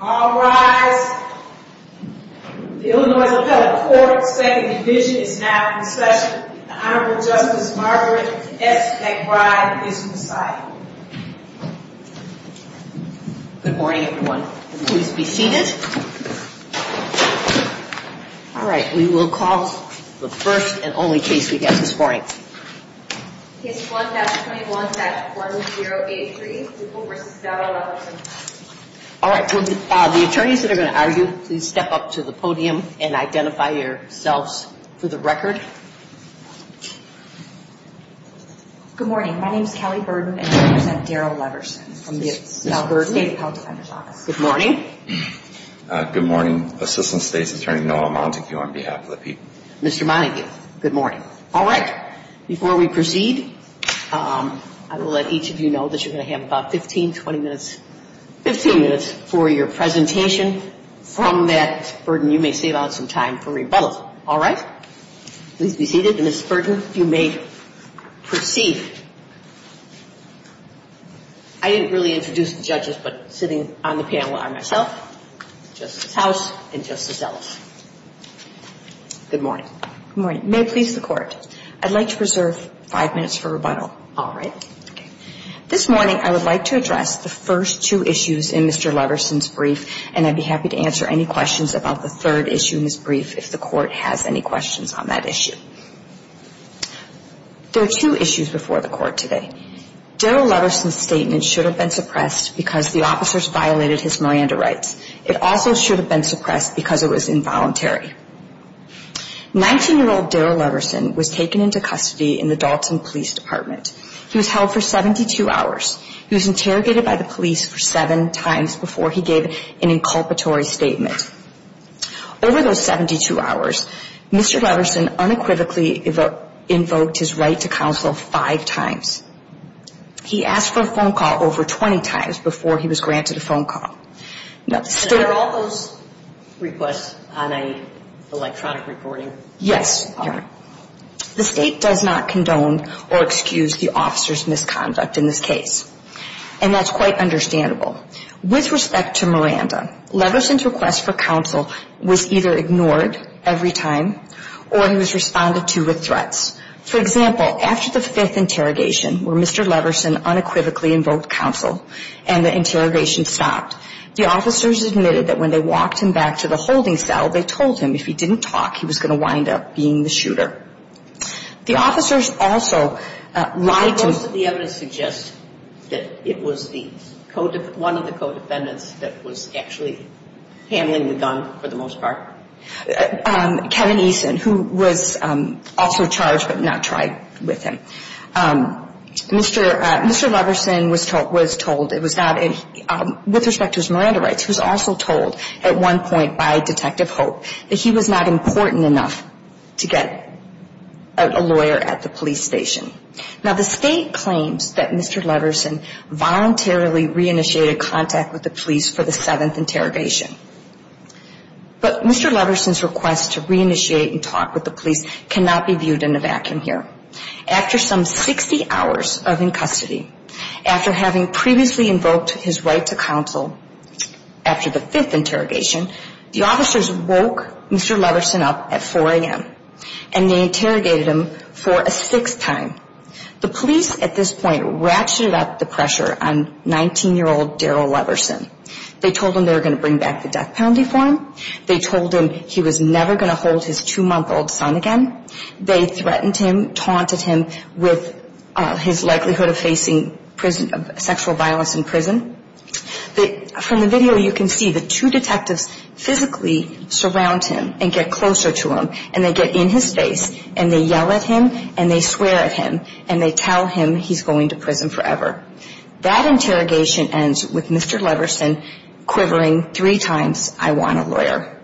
All rise. The Illinois Appellate Court's second division is now in session. The Honorable Justice Margaret S. McBride is to the side. Good morning, everyone. Please be seated. All right, we will call the first and only case we have this morning. Case 1-21-1083, Dugall v. Dowdell-Leverson. All right, the attorneys that are going to argue, please step up to the podium and identify yourselves for the record. Good morning. My name is Kelly Burden and I represent Darrell Leverson from the State Appellate Defender's Office. Good morning. Good morning, Assistant State's Attorney Noah Montague on behalf of the people. Mr. Montague, good morning. All right, before we proceed, I will let each of you know that you're going to have about 15-20 minutes 15 minutes for your presentation. From that, Burden, you may save out some time for rebuttal. All right? Please be seated. And, Ms. Burden, you may proceed. I didn't really introduce the judges, but sitting on the panel are myself, Justice House, and Justice Ellis. Good morning. Good morning. May it please the Court, I'd like to reserve five minutes for rebuttal. All right. This morning, I would like to address the first two issues in Mr. Leverson's brief, and I'd be happy to answer any questions about the third issue in his brief if the Court has any questions on that issue. There are two issues before the Court today. Darrell Leverson's statement should have been suppressed because the officers violated his Miranda rights. It also should have been suppressed because it was involuntary. Nineteen-year-old Darrell Leverson was taken into custody in the Dalton Police Department. He was held for 72 hours. He was interrogated by the police for seven times before he gave an inculpatory statement. Over those 72 hours, Mr. Leverson unequivocally invoked his right to counsel five times. He asked for a phone call over 20 times before he was granted a phone call. And are all those requests on an electronic recording? Yes. The State does not condone or excuse the officer's misconduct in this case. And that's quite understandable. With respect to Miranda, Leverson's request for counsel was either ignored every time or he was responded to with threats. For example, after the fifth interrogation where Mr. Leverson unequivocally invoked counsel and the interrogation stopped, the officers admitted that when they walked him back to the holding cell, they told him if he didn't talk, he was going to wind up being the shooter. The officers also lied to him. Why most of the evidence suggests that it was one of the co-defendants that was actually handling the gun for the most part? Kevin Eason, who was also charged but not tried with him. Mr. Leverson was told, it was not, with respect to his Miranda rights, was also told at one point by Detective Hope that he was not important enough to get a lawyer at the police station. Now the State claims that Mr. Leverson voluntarily reinitiated contact with the police for the seventh interrogation. But Mr. Leverson's request to reinitiate and talk with the police cannot be viewed in a vacuum here. After some 60 hours of in custody, after having previously invoked his right to counsel, after the fifth interrogation, the officers woke Mr. Leverson up at 4 a.m. and they interrogated him for a sixth time. The police at this point ratcheted up the pressure on 19-year-old Darryl Leverson. They told him they were going to bring back the death penalty for him. They told him he was never going to hold his two-month-old son again. They threatened him, taunted him with his likelihood of facing sexual violence in prison. From the video you can see the two detectives physically surround him and get closer to him and they get in his face and they yell at him and they swear at him and they tell him he's going to prison forever. That interrogation ends with Mr. Leverson quivering three times, I want a lawyer.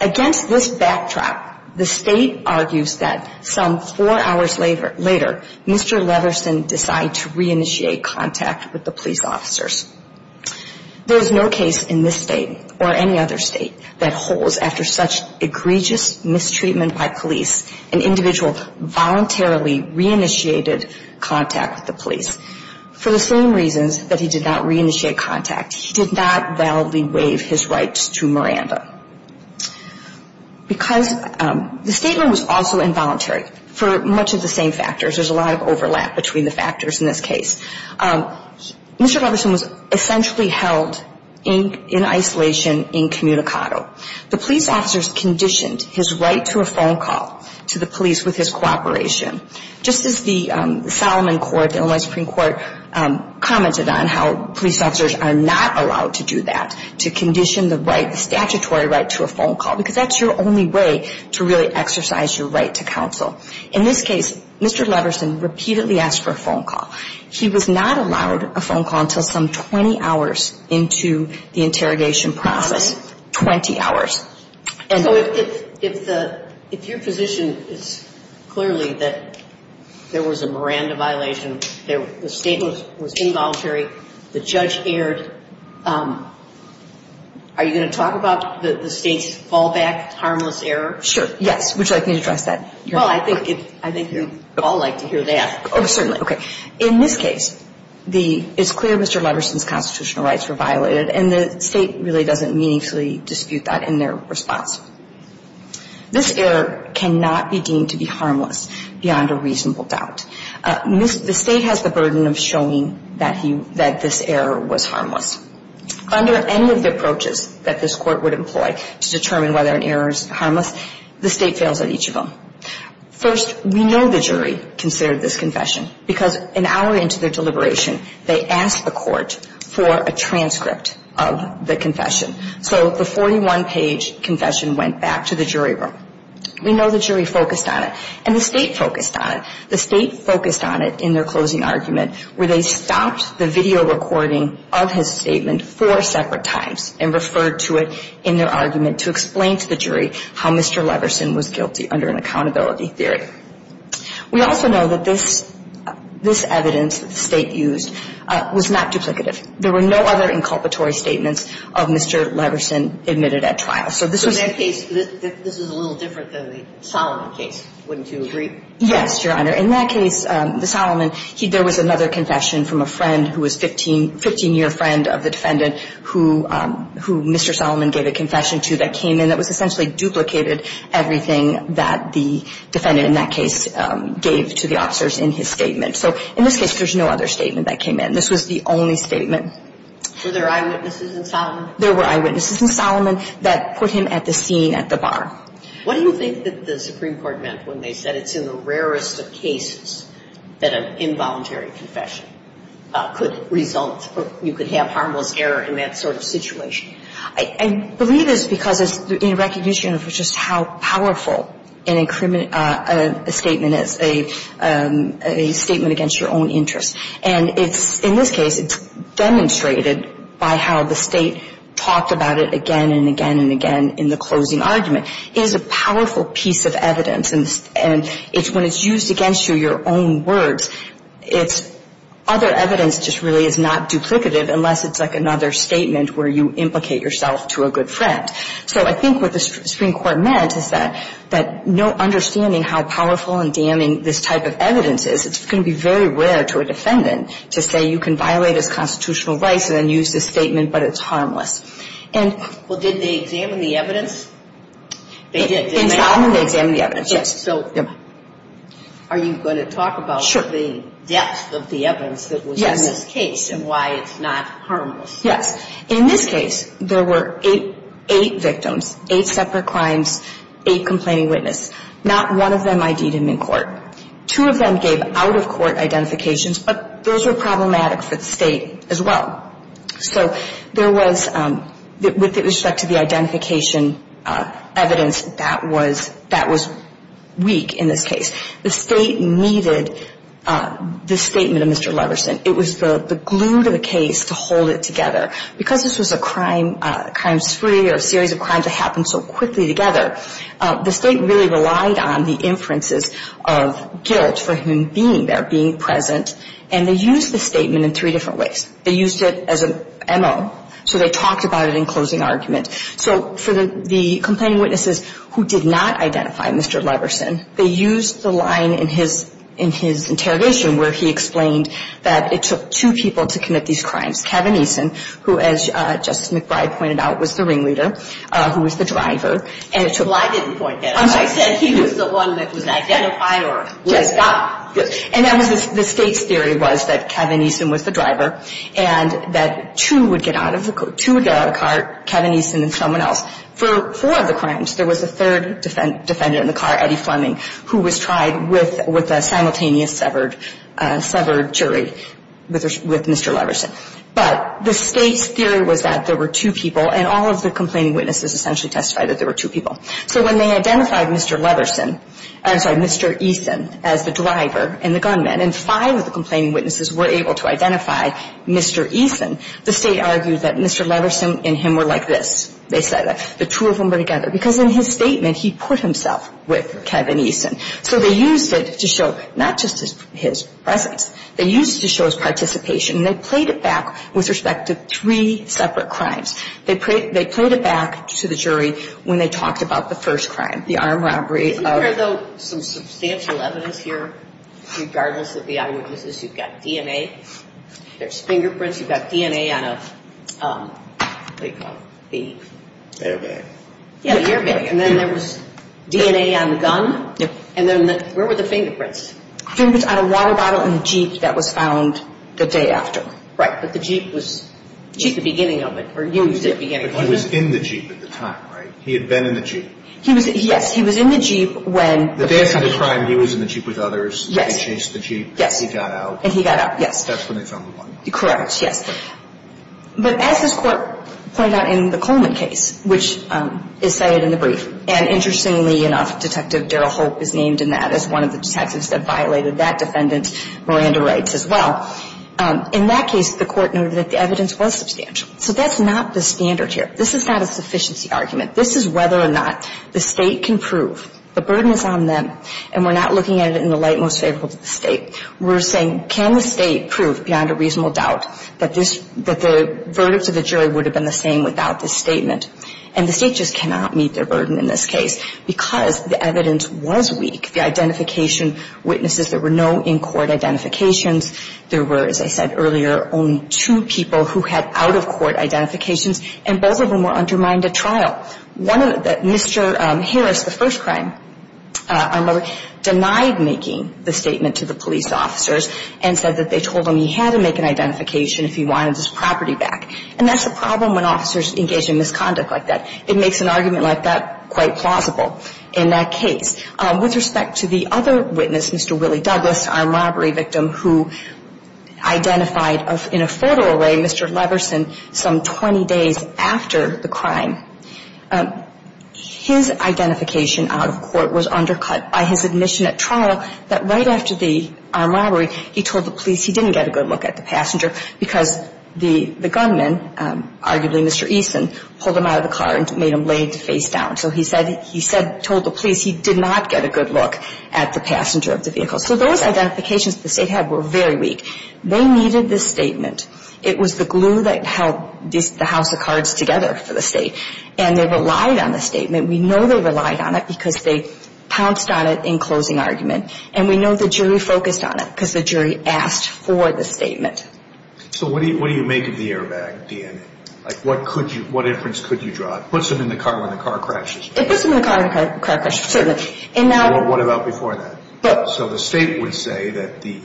Against this backdrop, the State argues that some four hours later, Mr. Leverson decided to re-initiate contact with the police officers. There is no case in this State or any other State that holds, after such egregious mistreatment by police, an individual voluntarily re-initiated contact with the police. For the same reasons that he did not re-initiate contact, he did not validly waive his rights to Miranda. Because the statement was also involuntary for much of the same factors. There's a lot of overlap between the factors in this case. Mr. Leverson was essentially held in isolation incommunicado. The police officers conditioned his right to a phone call to the police with his cooperation. Just as the Solomon Court, the Illinois Supreme Court, commented on how police officers are not allowed to do that, to condition the statutory right to a phone call, because that's your only way to really exercise your right to counsel. In this case, Mr. Leverson repeatedly asked for a phone call. He was not allowed a phone call until some 20 hours into the interrogation process. 20 hours. So if your position is clearly that there was a Miranda violation, the statement was involuntary, the judge erred, are you going to talk about the State's fallback harmless error? Sure, yes. Would you like me to address that? Well, I think you'd all like to hear that. Oh, certainly. Okay. In this case, it's clear Mr. Leverson's constitutional rights were violated, and the State really doesn't meaningfully dispute that in their response. This error cannot be deemed to be harmless beyond a reasonable doubt. The State has the burden of showing that this error was harmless. Under any of the approaches that this Court would employ to determine whether an error is harmless, the State fails at each of them. First, we know the jury considered this confession because an hour into their deliberation they asked the Court for a transcript of the confession. So the 41-page confession went back to the jury room. We know the jury focused on it, and the State focused on it. The State focused on it in their closing argument where they stopped the video recording of his statement four separate times and referred to it in their argument to explain to the jury how Mr. Leverson was guilty under an accountability theory. We also know that this evidence that the State used was not duplicative. There were no other inculpatory statements of Mr. Leverson admitted at trial. So this was the case. This was a little different than the Solomon case, wouldn't you agree? Yes, Your Honor. In that case, the Solomon, there was another confession from a friend who was 15-year friend of the defendant who Mr. Solomon gave a confession to that came in that was essentially duplicated everything that the defendant in that case gave to the officers in his statement. So in this case, there's no other statement that came in. This was the only statement. Were there eyewitnesses in Solomon? There were eyewitnesses in Solomon that put him at the scene at the bar. What do you think that the Supreme Court meant when they said it's in the rarest of cases that an involuntary confession could result or you could have harmless error in that sort of situation? I believe it's because it's in recognition of just how powerful a statement is, a statement against your own interests. And in this case, it's demonstrated by how the State talked about it again and again and again in the closing argument. It is a powerful piece of evidence. And when it's used against you, your own words, other evidence just really is not duplicative unless it's like another statement where you implicate yourself to a good friend. So I think what the Supreme Court meant is that understanding how powerful and damning this type of evidence is, it's going to be very rare to a defendant to say you can violate his constitutional rights and then use this statement but it's harmless. Well, did they examine the evidence? In Solomon, they examined the evidence, yes. So are you going to talk about the depth of the evidence that was in this case and why it's not harmless? Yes. In this case, there were eight victims, eight separate crimes, eight complaining witnesses. Not one of them ID'd him in court. Two of them gave out-of-court identifications, but those were problematic for the State as well. So there was, with respect to the identification evidence, that was weak in this case. The State needed the statement of Mr. Leverson. It was the glue to the case to hold it together. Because this was a crime spree or a series of crimes that happened so quickly together, the State really relied on the inferences of guilt for him being there, being present, and they used the statement in three different ways. They used it as an M.O. So they talked about it in closing argument. So for the complaining witnesses who did not identify Mr. Leverson, they used the line in his interrogation where he explained that it took two people to commit these crimes, Kevin Eason, who, as Justice McBride pointed out, was the ringleader, who was the driver. Well, I didn't point that out. I said he was the one that was identified or was not. And that was the State's theory was that Kevin Eason was the driver and that two would get out of the car, Kevin Eason and someone else. For four of the crimes, there was a third defendant in the car, Eddie Fleming, who was tried with a simultaneous severed jury with Mr. Leverson. But the State's theory was that there were two people, and all of the complaining witnesses essentially testified that there were two people. So when they identified Mr. Leverson, I'm sorry, Mr. Eason as the driver and the gunman, and five of the complaining witnesses were able to identify Mr. Eason, the State argued that Mr. Leverson and him were like this. They said the two of them were together. Because in his statement, he put himself with Kevin Eason. So they used it to show not just his presence. They used it to show his participation. And they played it back with respect to three separate crimes. They played it back to the jury when they talked about the first crime, the armed robbery. Isn't there, though, some substantial evidence here? Regardless of the eyewitnesses, you've got DNA. There's fingerprints. You've got DNA on a, what do you call it? Airbag. Yeah, an airbag. And then there was DNA on the gun. And then where were the fingerprints? Fingerprints on a water bottle in the Jeep that was found the day after. Right. But the Jeep was the beginning of it, or used at the beginning. But he was in the Jeep at the time, right? He had been in the Jeep. Yes. He was in the Jeep when... The day after the crime, he was in the Jeep with others. Yes. They chased the Jeep. Yes. And he got out. And he got out, yes. That's when they found the one. Correct. Yes. But as this Court pointed out in the Coleman case, which is cited in the brief, and interestingly enough, Detective Daryl Holt is named in that as one of the detectives that violated that defendant's Miranda rights as well. In that case, the Court noted that the evidence was substantial. So that's not the standard here. This is not a sufficiency argument. This is whether or not the State can prove. The burden is on them. And we're not looking at it in the light most favorable to the State. We're saying, can the State prove beyond a reasonable doubt that the verdicts of the jury would have been the same without this statement? And the State just cannot meet their burden in this case because the evidence was weak. The identification witnesses, there were no in-court identifications. There were, as I said earlier, only two people who had out-of-court identifications, and both of them were undermined at trial. One of them, Mr. Harris, the first crime armed robber, denied making the statement to the police officers and said that they told him he had to make an identification if he wanted his property back. And that's the problem when officers engage in misconduct like that. It makes an argument like that quite plausible in that case. With respect to the other witness, Mr. Willie Douglas, armed robbery victim, who identified in a photo array Mr. Leverson some 20 days after the crime, his identification out of court was undercut by his admission at trial that right after the armed robbery, he told the police he didn't get a good look at the passenger because the gunman, arguably Mr. Eason, pulled him out of the car and made him lay face down. So he said he told the police he did not get a good look at the passenger of the vehicle. So those identifications the state had were very weak. They needed this statement. It was the glue that held the house of cards together for the state, and they relied on the statement. We know they relied on it because they pounced on it in closing argument, and we know the jury focused on it because the jury asked for the statement. So what do you make of the airbag DNA? Like, what could you – what inference could you draw? It puts him in the car when the car crashes. It puts him in the car when the car crashes, certainly. So what about before that? So the state would say that the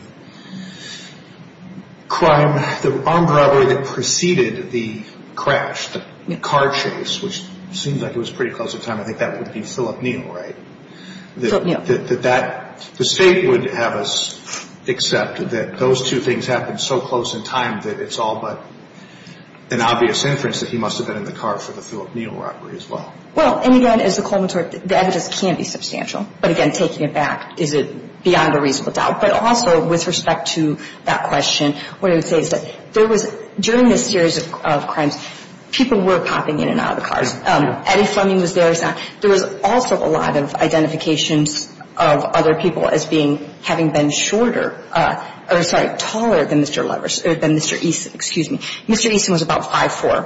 crime, the armed robbery that preceded the crash, the car chase, which seems like it was pretty close in time, I think that would be Philip Neal, right? Philip Neal. That the state would have us accept that those two things happened so close in time that it's all but an obvious inference that he must have been in the car for the Philip Neal robbery as well. Well, and again, as the Coleman said, the evidence can be substantial. But again, taking it back, is it beyond a reasonable doubt? But also with respect to that question, what I would say is that there was – during this series of crimes, people were popping in and out of the cars. Eddie Fleming was there. There was also a lot of identifications of other people as being – having been shorter – sorry, taller than Mr. Levers – than Mr. Eason. Excuse me. Mr. Eason was about 5'4".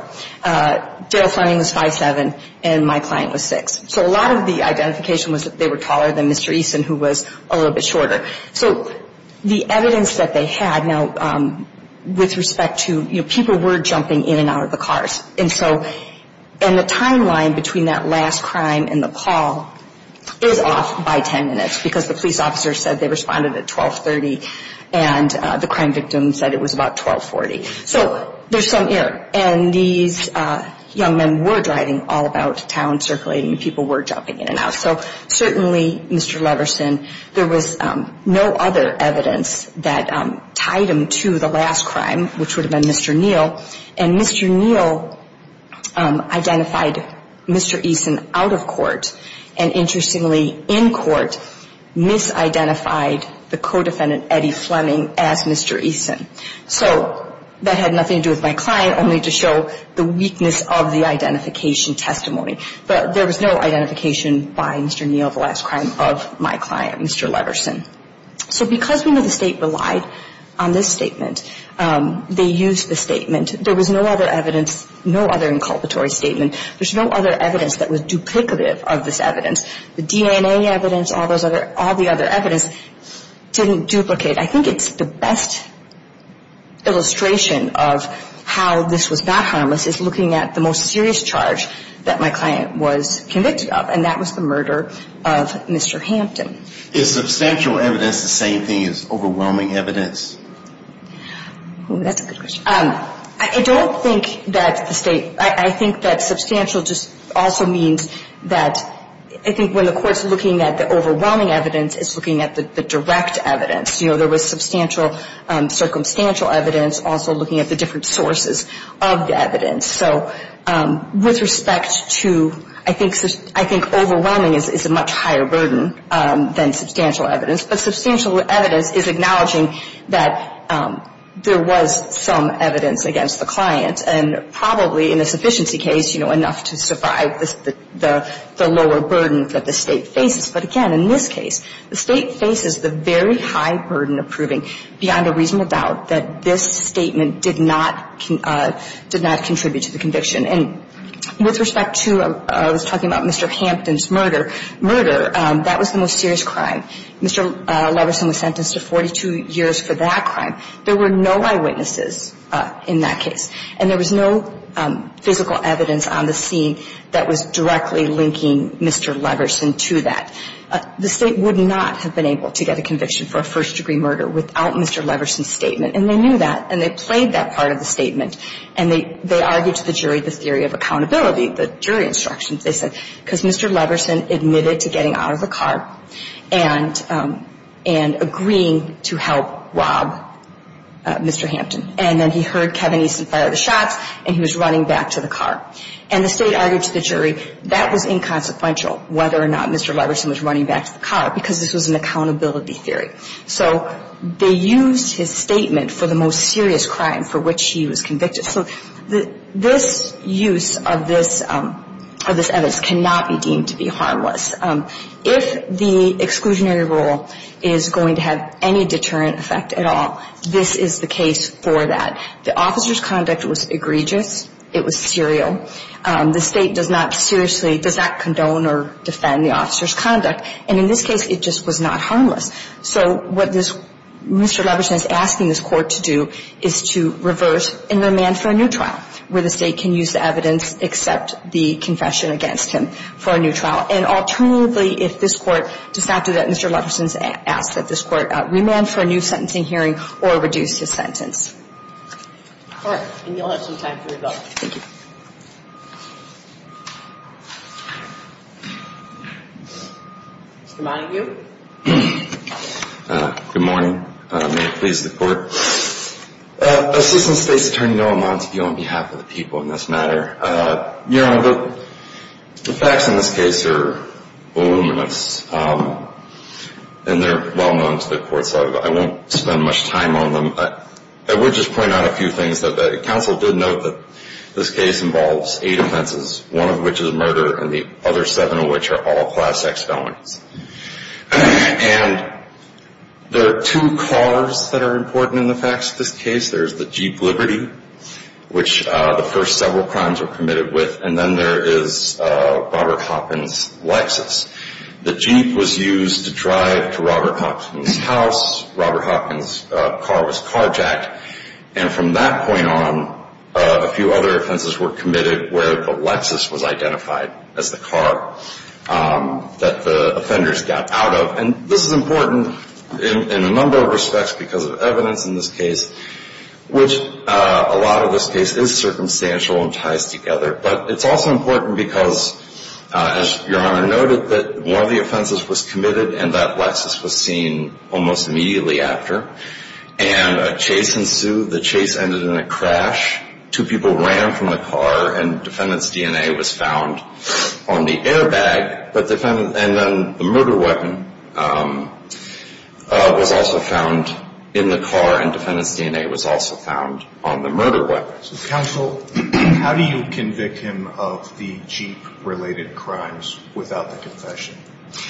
Daryl Fleming was 5'7", and my client was 6". So a lot of the identification was that they were taller than Mr. Eason, who was a little bit shorter. So the evidence that they had – now, with respect to – you know, people were jumping in and out of the cars. And so – and the timeline between that last crime and the call is off by 10 minutes, because the police officer said they responded at 1230, and the crime victim said it was about 1240. So there's some error. And these young men were driving all about town, circulating, and people were jumping in and out. So certainly, Mr. Leverson, there was no other evidence that tied him to the last crime, which would have been Mr. Neal. And Mr. Neal identified Mr. Eason out of court, and interestingly, in court, misidentified the co-defendant, Eddie Fleming, as Mr. Eason. So that had nothing to do with my client, only to show the weakness of the identification testimony. But there was no identification by Mr. Neal of the last crime of my client, Mr. Leverson. So because we know the state relied on this statement, they used the statement. There was no other evidence, no other inculpatory statement. There's no other evidence that was duplicative of this evidence. The DNA evidence, all those other – all the other evidence didn't duplicate. I think it's the best illustration of how this was not harmless, is looking at the most serious charge that my client was convicted of, and that was the murder of Mr. Hampton. Is substantial evidence the same thing as overwhelming evidence? That's a good question. I don't think that the state – I think that substantial just also means that – I think when the court's looking at the overwhelming evidence, it's looking at the direct evidence. You know, there was substantial – circumstantial evidence, also looking at the different sources of the evidence. So with respect to – I think overwhelming is a much higher burden than substantial evidence. But substantial evidence is acknowledging that there was some evidence against the client, and probably in a sufficiency case, you know, enough to survive the lower burden that the state faces. But again, in this case, the state faces the very high burden of proving beyond a reasonable doubt that this statement did not – did not contribute to the conviction. And with respect to – I was talking about Mr. Hampton's murder. Murder, that was the most serious crime. Mr. Leverson was sentenced to 42 years for that crime. There were no eyewitnesses in that case, and there was no physical evidence on the scene that was directly linking Mr. Leverson to that. The state would not have been able to get a conviction for a first-degree murder without Mr. Leverson's statement. And they knew that, and they played that part of the statement. And they argued to the jury the theory of accountability, the jury instructions. They said, because Mr. Leverson admitted to getting out of the car and agreeing to help rob Mr. Hampton. And then he heard Kevin Easton fire the shots, and he was running back to the car. And the state argued to the jury that was inconsequential, whether or not Mr. Leverson was running back to the car, because this was an accountability theory. So they used his statement for the most serious crime for which he was convicted. So this use of this evidence cannot be deemed to be harmless. If the exclusionary rule is going to have any deterrent effect at all, this is the case for that. The officers' conduct was egregious. It was serial. The state does not seriously, does not condone or defend the officers' conduct. And in this case, it just was not harmless. So what Mr. Leverson is asking this Court to do is to reverse and remand for a new trial, where the state can use the evidence, accept the confession against him for a new trial. And alternatively, if this Court does not do that, Mr. Leverson is asked that this Court remand for a new sentencing hearing or reduce his sentence. All right. And you'll have some time for your vote. Thank you. Mr. Montague. Good morning. May it please the Court. Assistant State's Attorney Noah Montague on behalf of the people in this matter. Your Honor, the facts in this case are voluminous, and they're well known to the Court. So I won't spend much time on them. I would just point out a few things. The counsel did note that this case involves eight offenses, one of which is murder and the other seven of which are all class X felonies. And there are two cars that are important in the facts of this case. There's the Jeep Liberty, which the first several crimes were committed with, and then there is Robert Hopkins' Lexus. The Jeep was used to drive to Robert Hopkins' house. Robert Hopkins' car was carjacked. And from that point on, a few other offenses were committed where the Lexus was identified as the car that the offenders got out of. And this is important in a number of respects because of evidence in this case, which a lot of this case is circumstantial and ties together. But it's also important because, as Your Honor noted, that one of the offenses was committed and that Lexus was seen almost immediately after. And a chase ensued. The chase ended in a crash. Two people ran from the car, and defendant's DNA was found on the airbag. And then the murder weapon was also found in the car, and defendant's DNA was also found on the murder weapon. Counsel, how do you convict him of the Jeep-related crimes without the confession?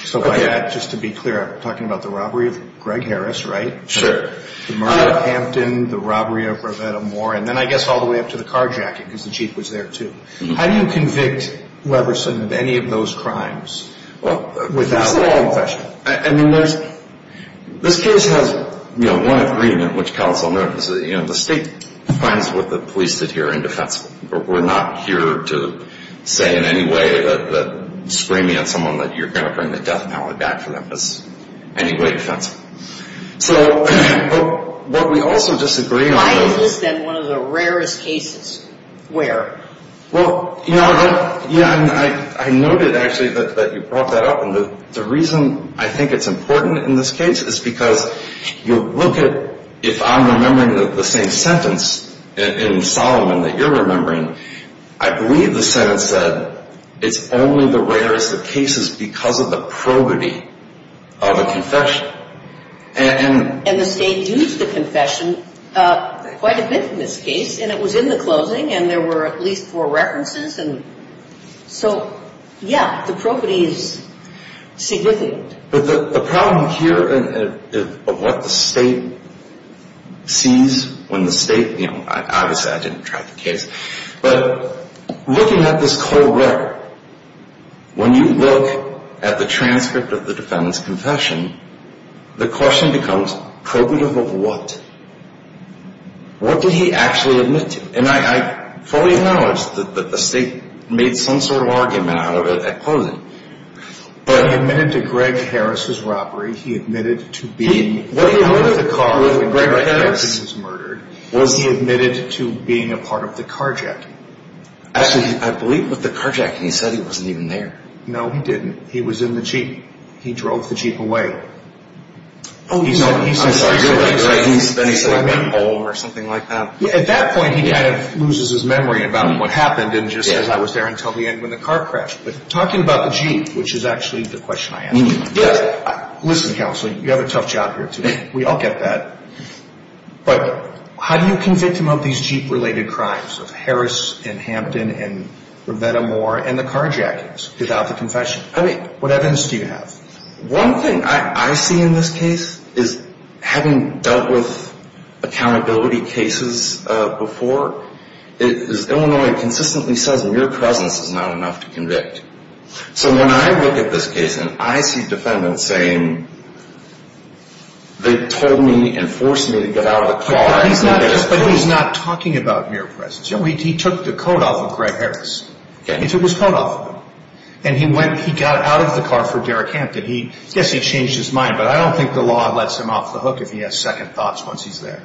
So by that, just to be clear, I'm talking about the robbery of Greg Harris, right? The murder of Hampton, the robbery of Revetta Moore, and then I guess all the way up to the carjacking because the Jeep was there too. How do you convict Leverson of any of those crimes without the confession? I mean, this case has one agreement, which counsel noted, is that the State finds what the police did here indefensible. We're not here to say in any way that screaming at someone that you're going to bring the death penalty back for them is any way defensible. So what we also disagree on is... Why is this then one of the rarest cases where? Well, Your Honor, I noted actually that you brought that up, and the reason I think it's important in this case is because you look at, if I'm remembering the same sentence in Solomon that you're remembering, I believe the sentence said, it's only the rarest of cases because of the probity of a confession. And the State used the confession quite a bit in this case, and it was in the closing, and there were at least four references, and so, yeah, the probity is significant. But the problem here of what the State sees when the State, you know, obviously I didn't try the case, but looking at this whole record, when you look at the transcript of the defendant's confession, the question becomes probative of what? What did he actually admit to? And I fully acknowledge that the State made some sort of argument out of it at closing, but he admitted to Greg Harris' robbery. He admitted to being part of the car when Greg Harris was murdered. Was he admitted to being a part of the carjacking? Actually, I believe with the carjacking, he said he wasn't even there. No, he didn't. He was in the Jeep. He drove the Jeep away. Oh, I'm sorry. He said he went home or something like that. At that point, he kind of loses his memory about what happened and just says, I was there until the end when the car crashed. But talking about the Jeep, which is actually the question I asked. Yes. Listen, Counselor, you have a tough job here today. We all get that. But how do you convict him of these Jeep-related crimes of Harris and Hampton and Roberta Moore and the carjackings without the confession? I mean, what evidence do you have? One thing I see in this case is having dealt with accountability cases before, Illinois consistently says mere presence is not enough to convict. So when I look at this case and I see defendants saying they told me and forced me to get out of the car. But he's not talking about mere presence. He took the coat off of Greg Harris. He took his coat off of him. And he got out of the car for Derek Hampton. Yes, he changed his mind, but I don't think the law lets him off the hook if he has second thoughts once he's there.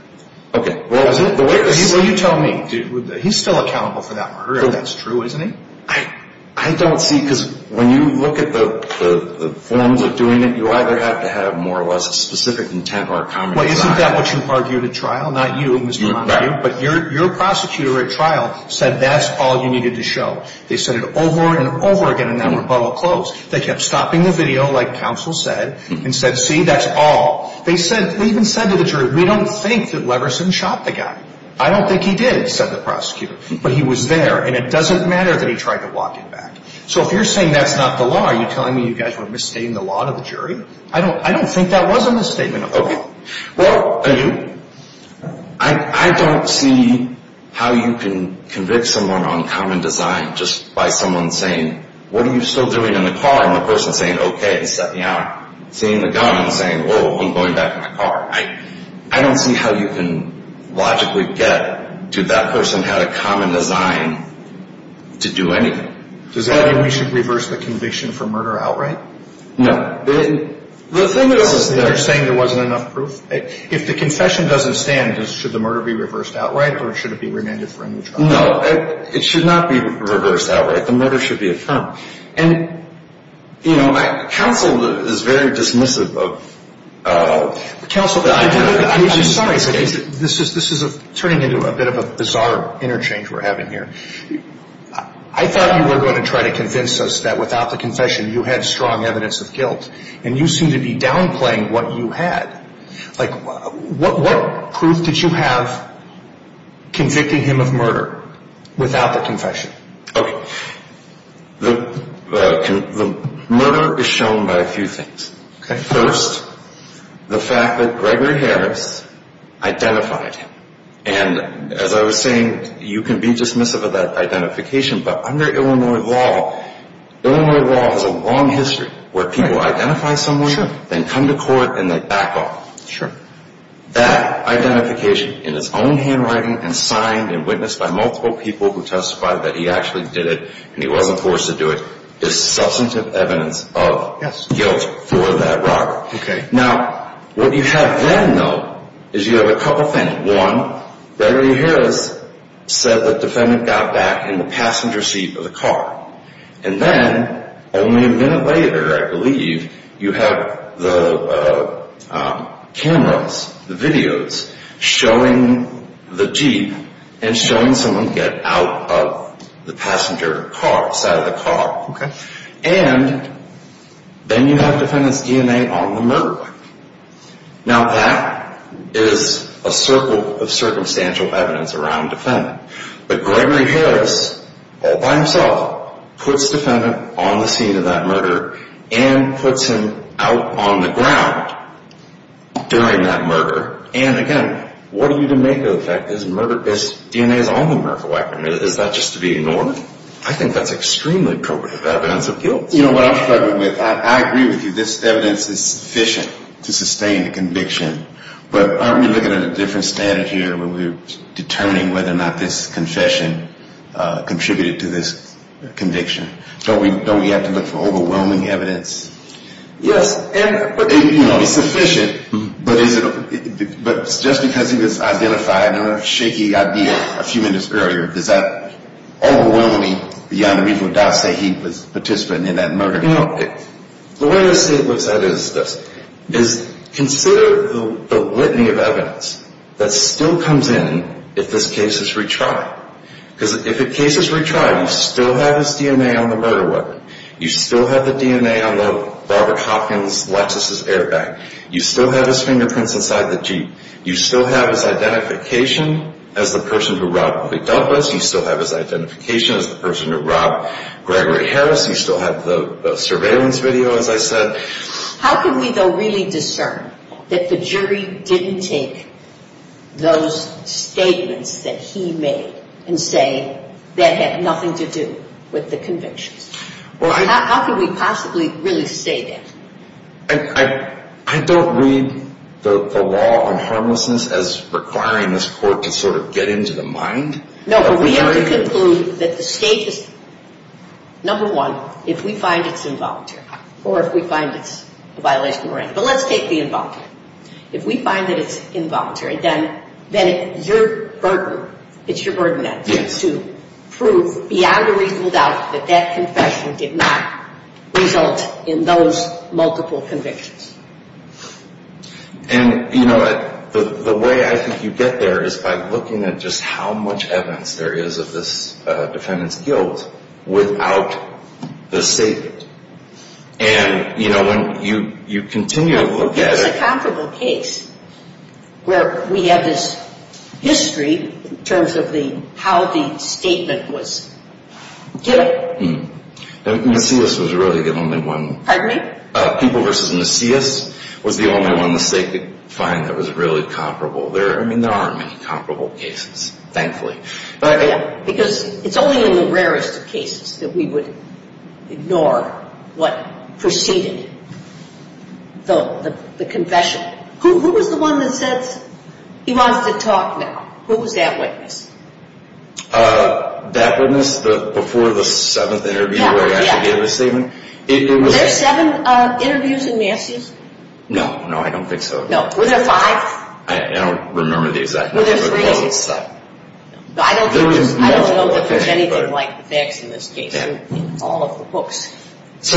Okay. Well, you tell me. He's still accountable for that murder. That's true, isn't he? I don't see it. Because when you look at the forms of doing it, you either have to have more or less a specific intent or a common design. Well, isn't that what you argued at trial? Not you, Mr. Montague. But your prosecutor at trial said that's all you needed to show. They said it over and over again, and now we're about to close. They kept stopping the video, like Counsel said, and said, see, that's all. They even said to the jury, we don't think that Leverson shot the guy. I don't think he did, said the prosecutor. But he was there, and it doesn't matter that he tried to walk him back. So if you're saying that's not the law, are you telling me you guys were misstating the law to the jury? I don't think that was a misstatement of the law. Well, I don't see how you can convict someone on common design just by someone saying, what are you still doing in the car, and the person saying, okay, and stepping out, seeing the gun and saying, whoa, I'm going back in the car. I don't see how you can logically get, dude, that person had a common design to do anything. Does that mean we should reverse the conviction for murder outright? No. The thing is that you're saying there wasn't enough proof. If the confession doesn't stand, should the murder be reversed outright, or should it be remanded for a new trial? No, it should not be reversed outright. The murder should be a term. And, you know, counsel is very dismissive of that idea. Counsel, I'm sorry. This is turning into a bit of a bizarre interchange we're having here. I thought you were going to try to convince us that without the confession you had strong evidence of guilt, and you seem to be downplaying what you had. Like, what proof did you have convicting him of murder without the confession? Okay. The murder is shown by a few things. Okay. First, the fact that Gregory Harris identified him. And as I was saying, you can be dismissive of that identification, but under Illinois law, Illinois law has a long history where people identify someone, then come to court, and they back off. Sure. That identification in its own handwriting and signed and witnessed by multiple people who testified that he actually did it and he wasn't forced to do it is substantive evidence of guilt for that robbery. Okay. Now, what you have then, though, is you have a couple things. One, Gregory Harris said the defendant got back in the passenger seat of the car. And then only a minute later, I believe, you have the cameras, the videos showing the Jeep and showing someone get out of the passenger car, the side of the car. And then you have defendant's ENA on the murder weapon. Now, that is a circle of circumstantial evidence around defendant. But Gregory Harris, all by himself, puts defendant on the scene of that murder and puts him out on the ground during that murder. And, again, what are you to make of the fact that his ENA is on the murder weapon? Is that just to be ignored? I think that's extremely appropriate evidence of guilt. You know, what I'm struggling with, I agree with you. This evidence is sufficient to sustain the conviction. But aren't we looking at a different standard here where we're determining whether or not this confession contributed to this conviction? Don't we have to look for overwhelming evidence? Yes. You know, it's sufficient. But just because he was identified in a shaky idea a few minutes earlier, does that overwhelm me beyond the reason why I say he was participating in that murder? The way I see it is this. Consider the litany of evidence that still comes in if this case is retried. Because if the case is retried, you still have his DNA on the murder weapon. You still have the DNA on the Robert Hopkins Lexus' airbag. You still have his fingerprints inside the Jeep. You still have his identification as the person who robbed the McDouglas. You still have his identification as the person who robbed Gregory Harris. You still have the surveillance video, as I said. How can we, though, really discern that the jury didn't take those statements that he made and say that had nothing to do with the convictions? How can we possibly really say that? I don't read the law on harmlessness as requiring this court to sort of get into the mind. No, but we have to conclude that the state is, number one, if we find it's involuntary or if we find it's a violation of morality. But let's take the involuntary. If we find that it's involuntary, then it's your burden to prove beyond a reasonable doubt that that confession did not result in those multiple convictions. And, you know, the way I think you get there is by looking at just how much evidence there is of this defendant's guilt without the statement. And, you know, when you continue to look at it. Well, give us a comparable case where we have this history in terms of how the statement was given. Mm-hmm. Macias was really the only one. Pardon me? People v. Macias was the only one the state could find that was really comparable. I mean, there aren't many comparable cases, thankfully. Yeah, because it's only in the rarest of cases that we would ignore what preceded the confession. Who was the one that says he wants to talk now? Who was that witness? That witness before the seventh interview where he actually gave his statement? Were there seven interviews in Macias? No, no, I don't think so. No. Was there five? I don't remember the exact number. Were there three? No. I don't know that there's anything like the facts in this case in all of the books. So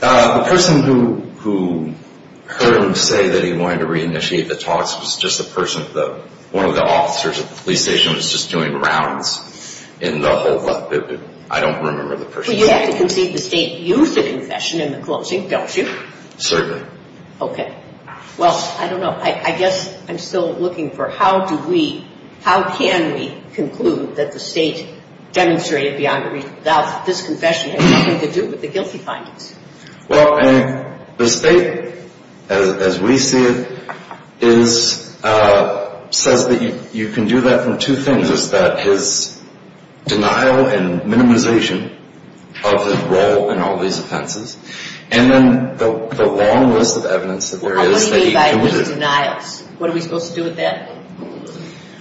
the person who heard him say that he wanted to reinitiate the talks was just a person, one of the officers at the police station was just doing rounds in the whole, I don't remember the person's name. Well, you have to concede the state used the confession in the closing, don't you? Certainly. Okay. Well, I don't know. I guess I'm still looking for how do we, how can we conclude that the state demonstrated beyond a reason that this confession had nothing to do with the guilty findings? Well, the state, as we see it, is, says that you can do that from two things. It's that his denial and minimization of his role in all these offenses, and then the long list of evidence that there is. What do you mean by his denials? What are we supposed to do with that?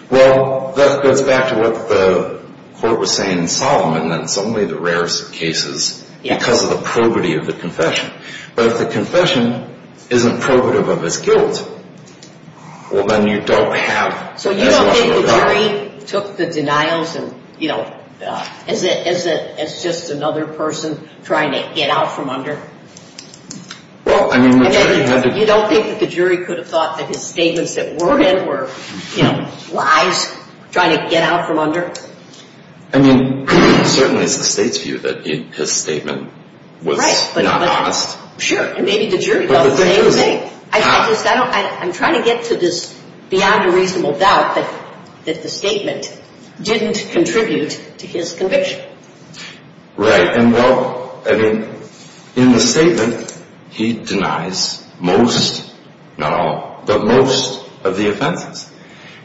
Well, that goes back to what the court was saying in Solomon, and it's only the rarest of cases because of the probity of the confession. But if the confession isn't probative of his guilt, well, then you don't have as much of a doubt. So the jury took the denials and, you know, as just another person trying to get out from under? Well, I mean, the jury had to. You don't think that the jury could have thought that his statements that were in were, you know, lies, trying to get out from under? I mean, certainly it's the state's view that his statement was not honest. Sure, and maybe the jury thought the same thing. I'm trying to get to this beyond a reasonable doubt that the statement didn't contribute to his conviction. Right. And, well, I mean, in the statement he denies most, not all, but most of the offenses.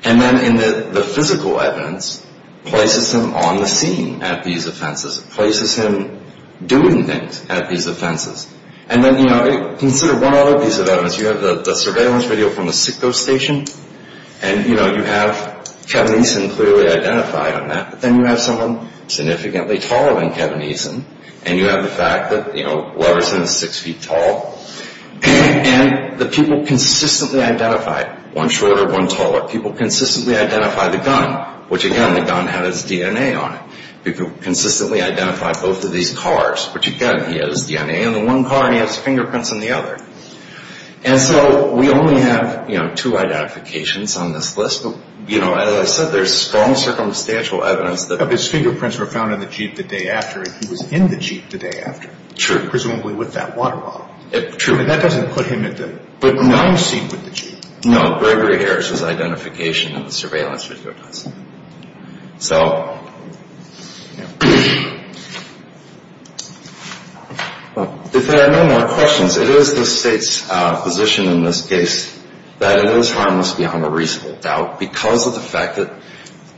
And then in the physical evidence places him on the scene at these offenses, places him doing things at these offenses. And then, you know, consider one other piece of evidence. You have the surveillance video from the SICCO station. And, you know, you have Kevin Eason clearly identified on that. But then you have someone significantly taller than Kevin Eason. And you have the fact that, you know, Leverson is six feet tall. And the people consistently identified one shorter, one taller. People consistently identified the gun, which, again, the gun had his DNA on it. People consistently identified both of these cars, which, again, he had his DNA on the one car. And he has fingerprints on the other. And so we only have, you know, two identifications on this list. But, you know, as I said, there's strong circumstantial evidence that his fingerprints were found in the Jeep the day after. And he was in the Jeep the day after. Sure. Presumably with that water bottle. True. And that doesn't put him at the wrong seat with the Jeep. No. Gregory Harris's identification in the surveillance video does. So if there are no more questions, it is the State's position in this case that it is harmless beyond a reasonable doubt. Because of the fact that,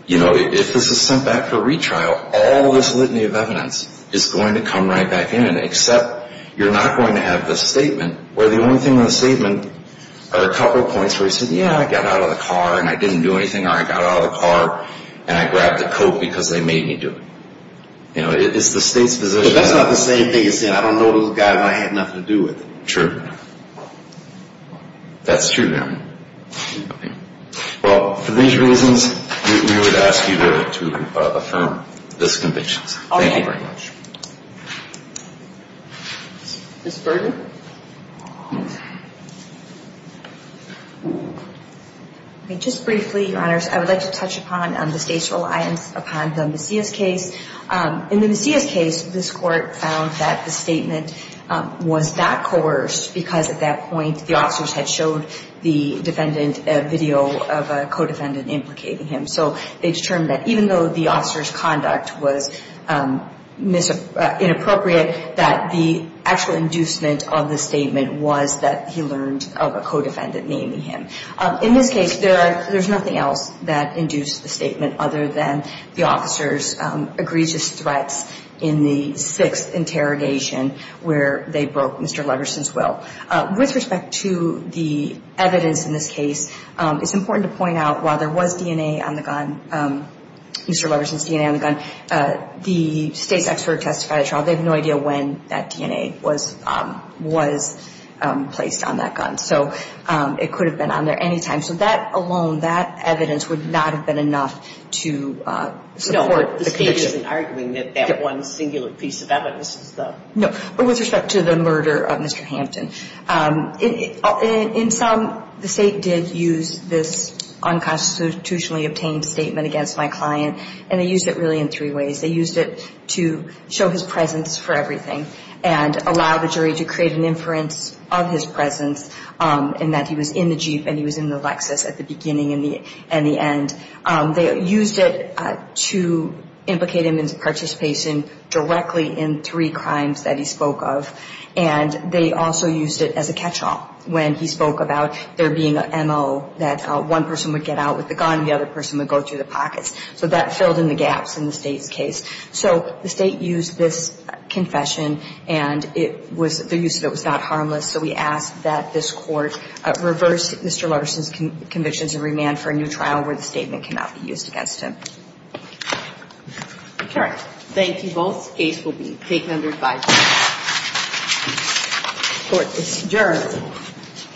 you know, if this is sent back for retrial, all this litany of evidence is going to come right back in. Except you're not going to have the statement where the only thing in the statement are a couple points where he said, yeah, I got out of the car and I didn't do anything. Or I got out of the car and I grabbed the coat because they made me do it. You know, it's the State's position. But that's not the same thing as saying I don't know those guys and I had nothing to do with them. True. That's true. Okay. Well, for these reasons, we would ask you to affirm this conviction. Thank you very much. Ms. Berger? Just briefly, Your Honors, I would like to touch upon the State's reliance upon the Macias case. In the Macias case, this Court found that the statement was not coerced because at that point, the officers had showed the defendant a video of a co-defendant implicating him. So they determined that even though the officer's conduct was inappropriate, that the actual inducement of the statement was that he learned of a co-defendant naming him. In this case, there's nothing else that induced the statement other than the officers' egregious threats in the sixth interrogation where they broke Mr. Leverson's will. With respect to the evidence in this case, it's important to point out while there was DNA on the gun, Mr. Leverson's DNA on the gun, the State's expert testified at trial. They have no idea when that DNA was placed on that gun. So it could have been on there any time. So that alone, that evidence would not have been enough to support the conviction. No, the State isn't arguing that that one singular piece of evidence is, though. No, but with respect to the murder of Mr. Hampton, in some, the State did use this unconstitutionally obtained statement against my client, and they used it really in three ways. They used it to show his presence for everything and allow the jury to create an inference of his presence in that he was in the Jeep and he was in the Lexus at the beginning and the end. They used it to implicate him in participation directly in three crimes that he spoke of, and they also used it as a catch-all when he spoke about there being an M.O. that one person would get out with the gun and the other person would go through the pockets. So that filled in the gaps in the State's case. So the State used this confession, and it was the use of it was not harmless. So we ask that this Court reverse Mr. Lutterson's convictions and remand for a new trial where the statement cannot be used against him. All right. Thank you both. The case will be taken under five minutes. Court is adjourned.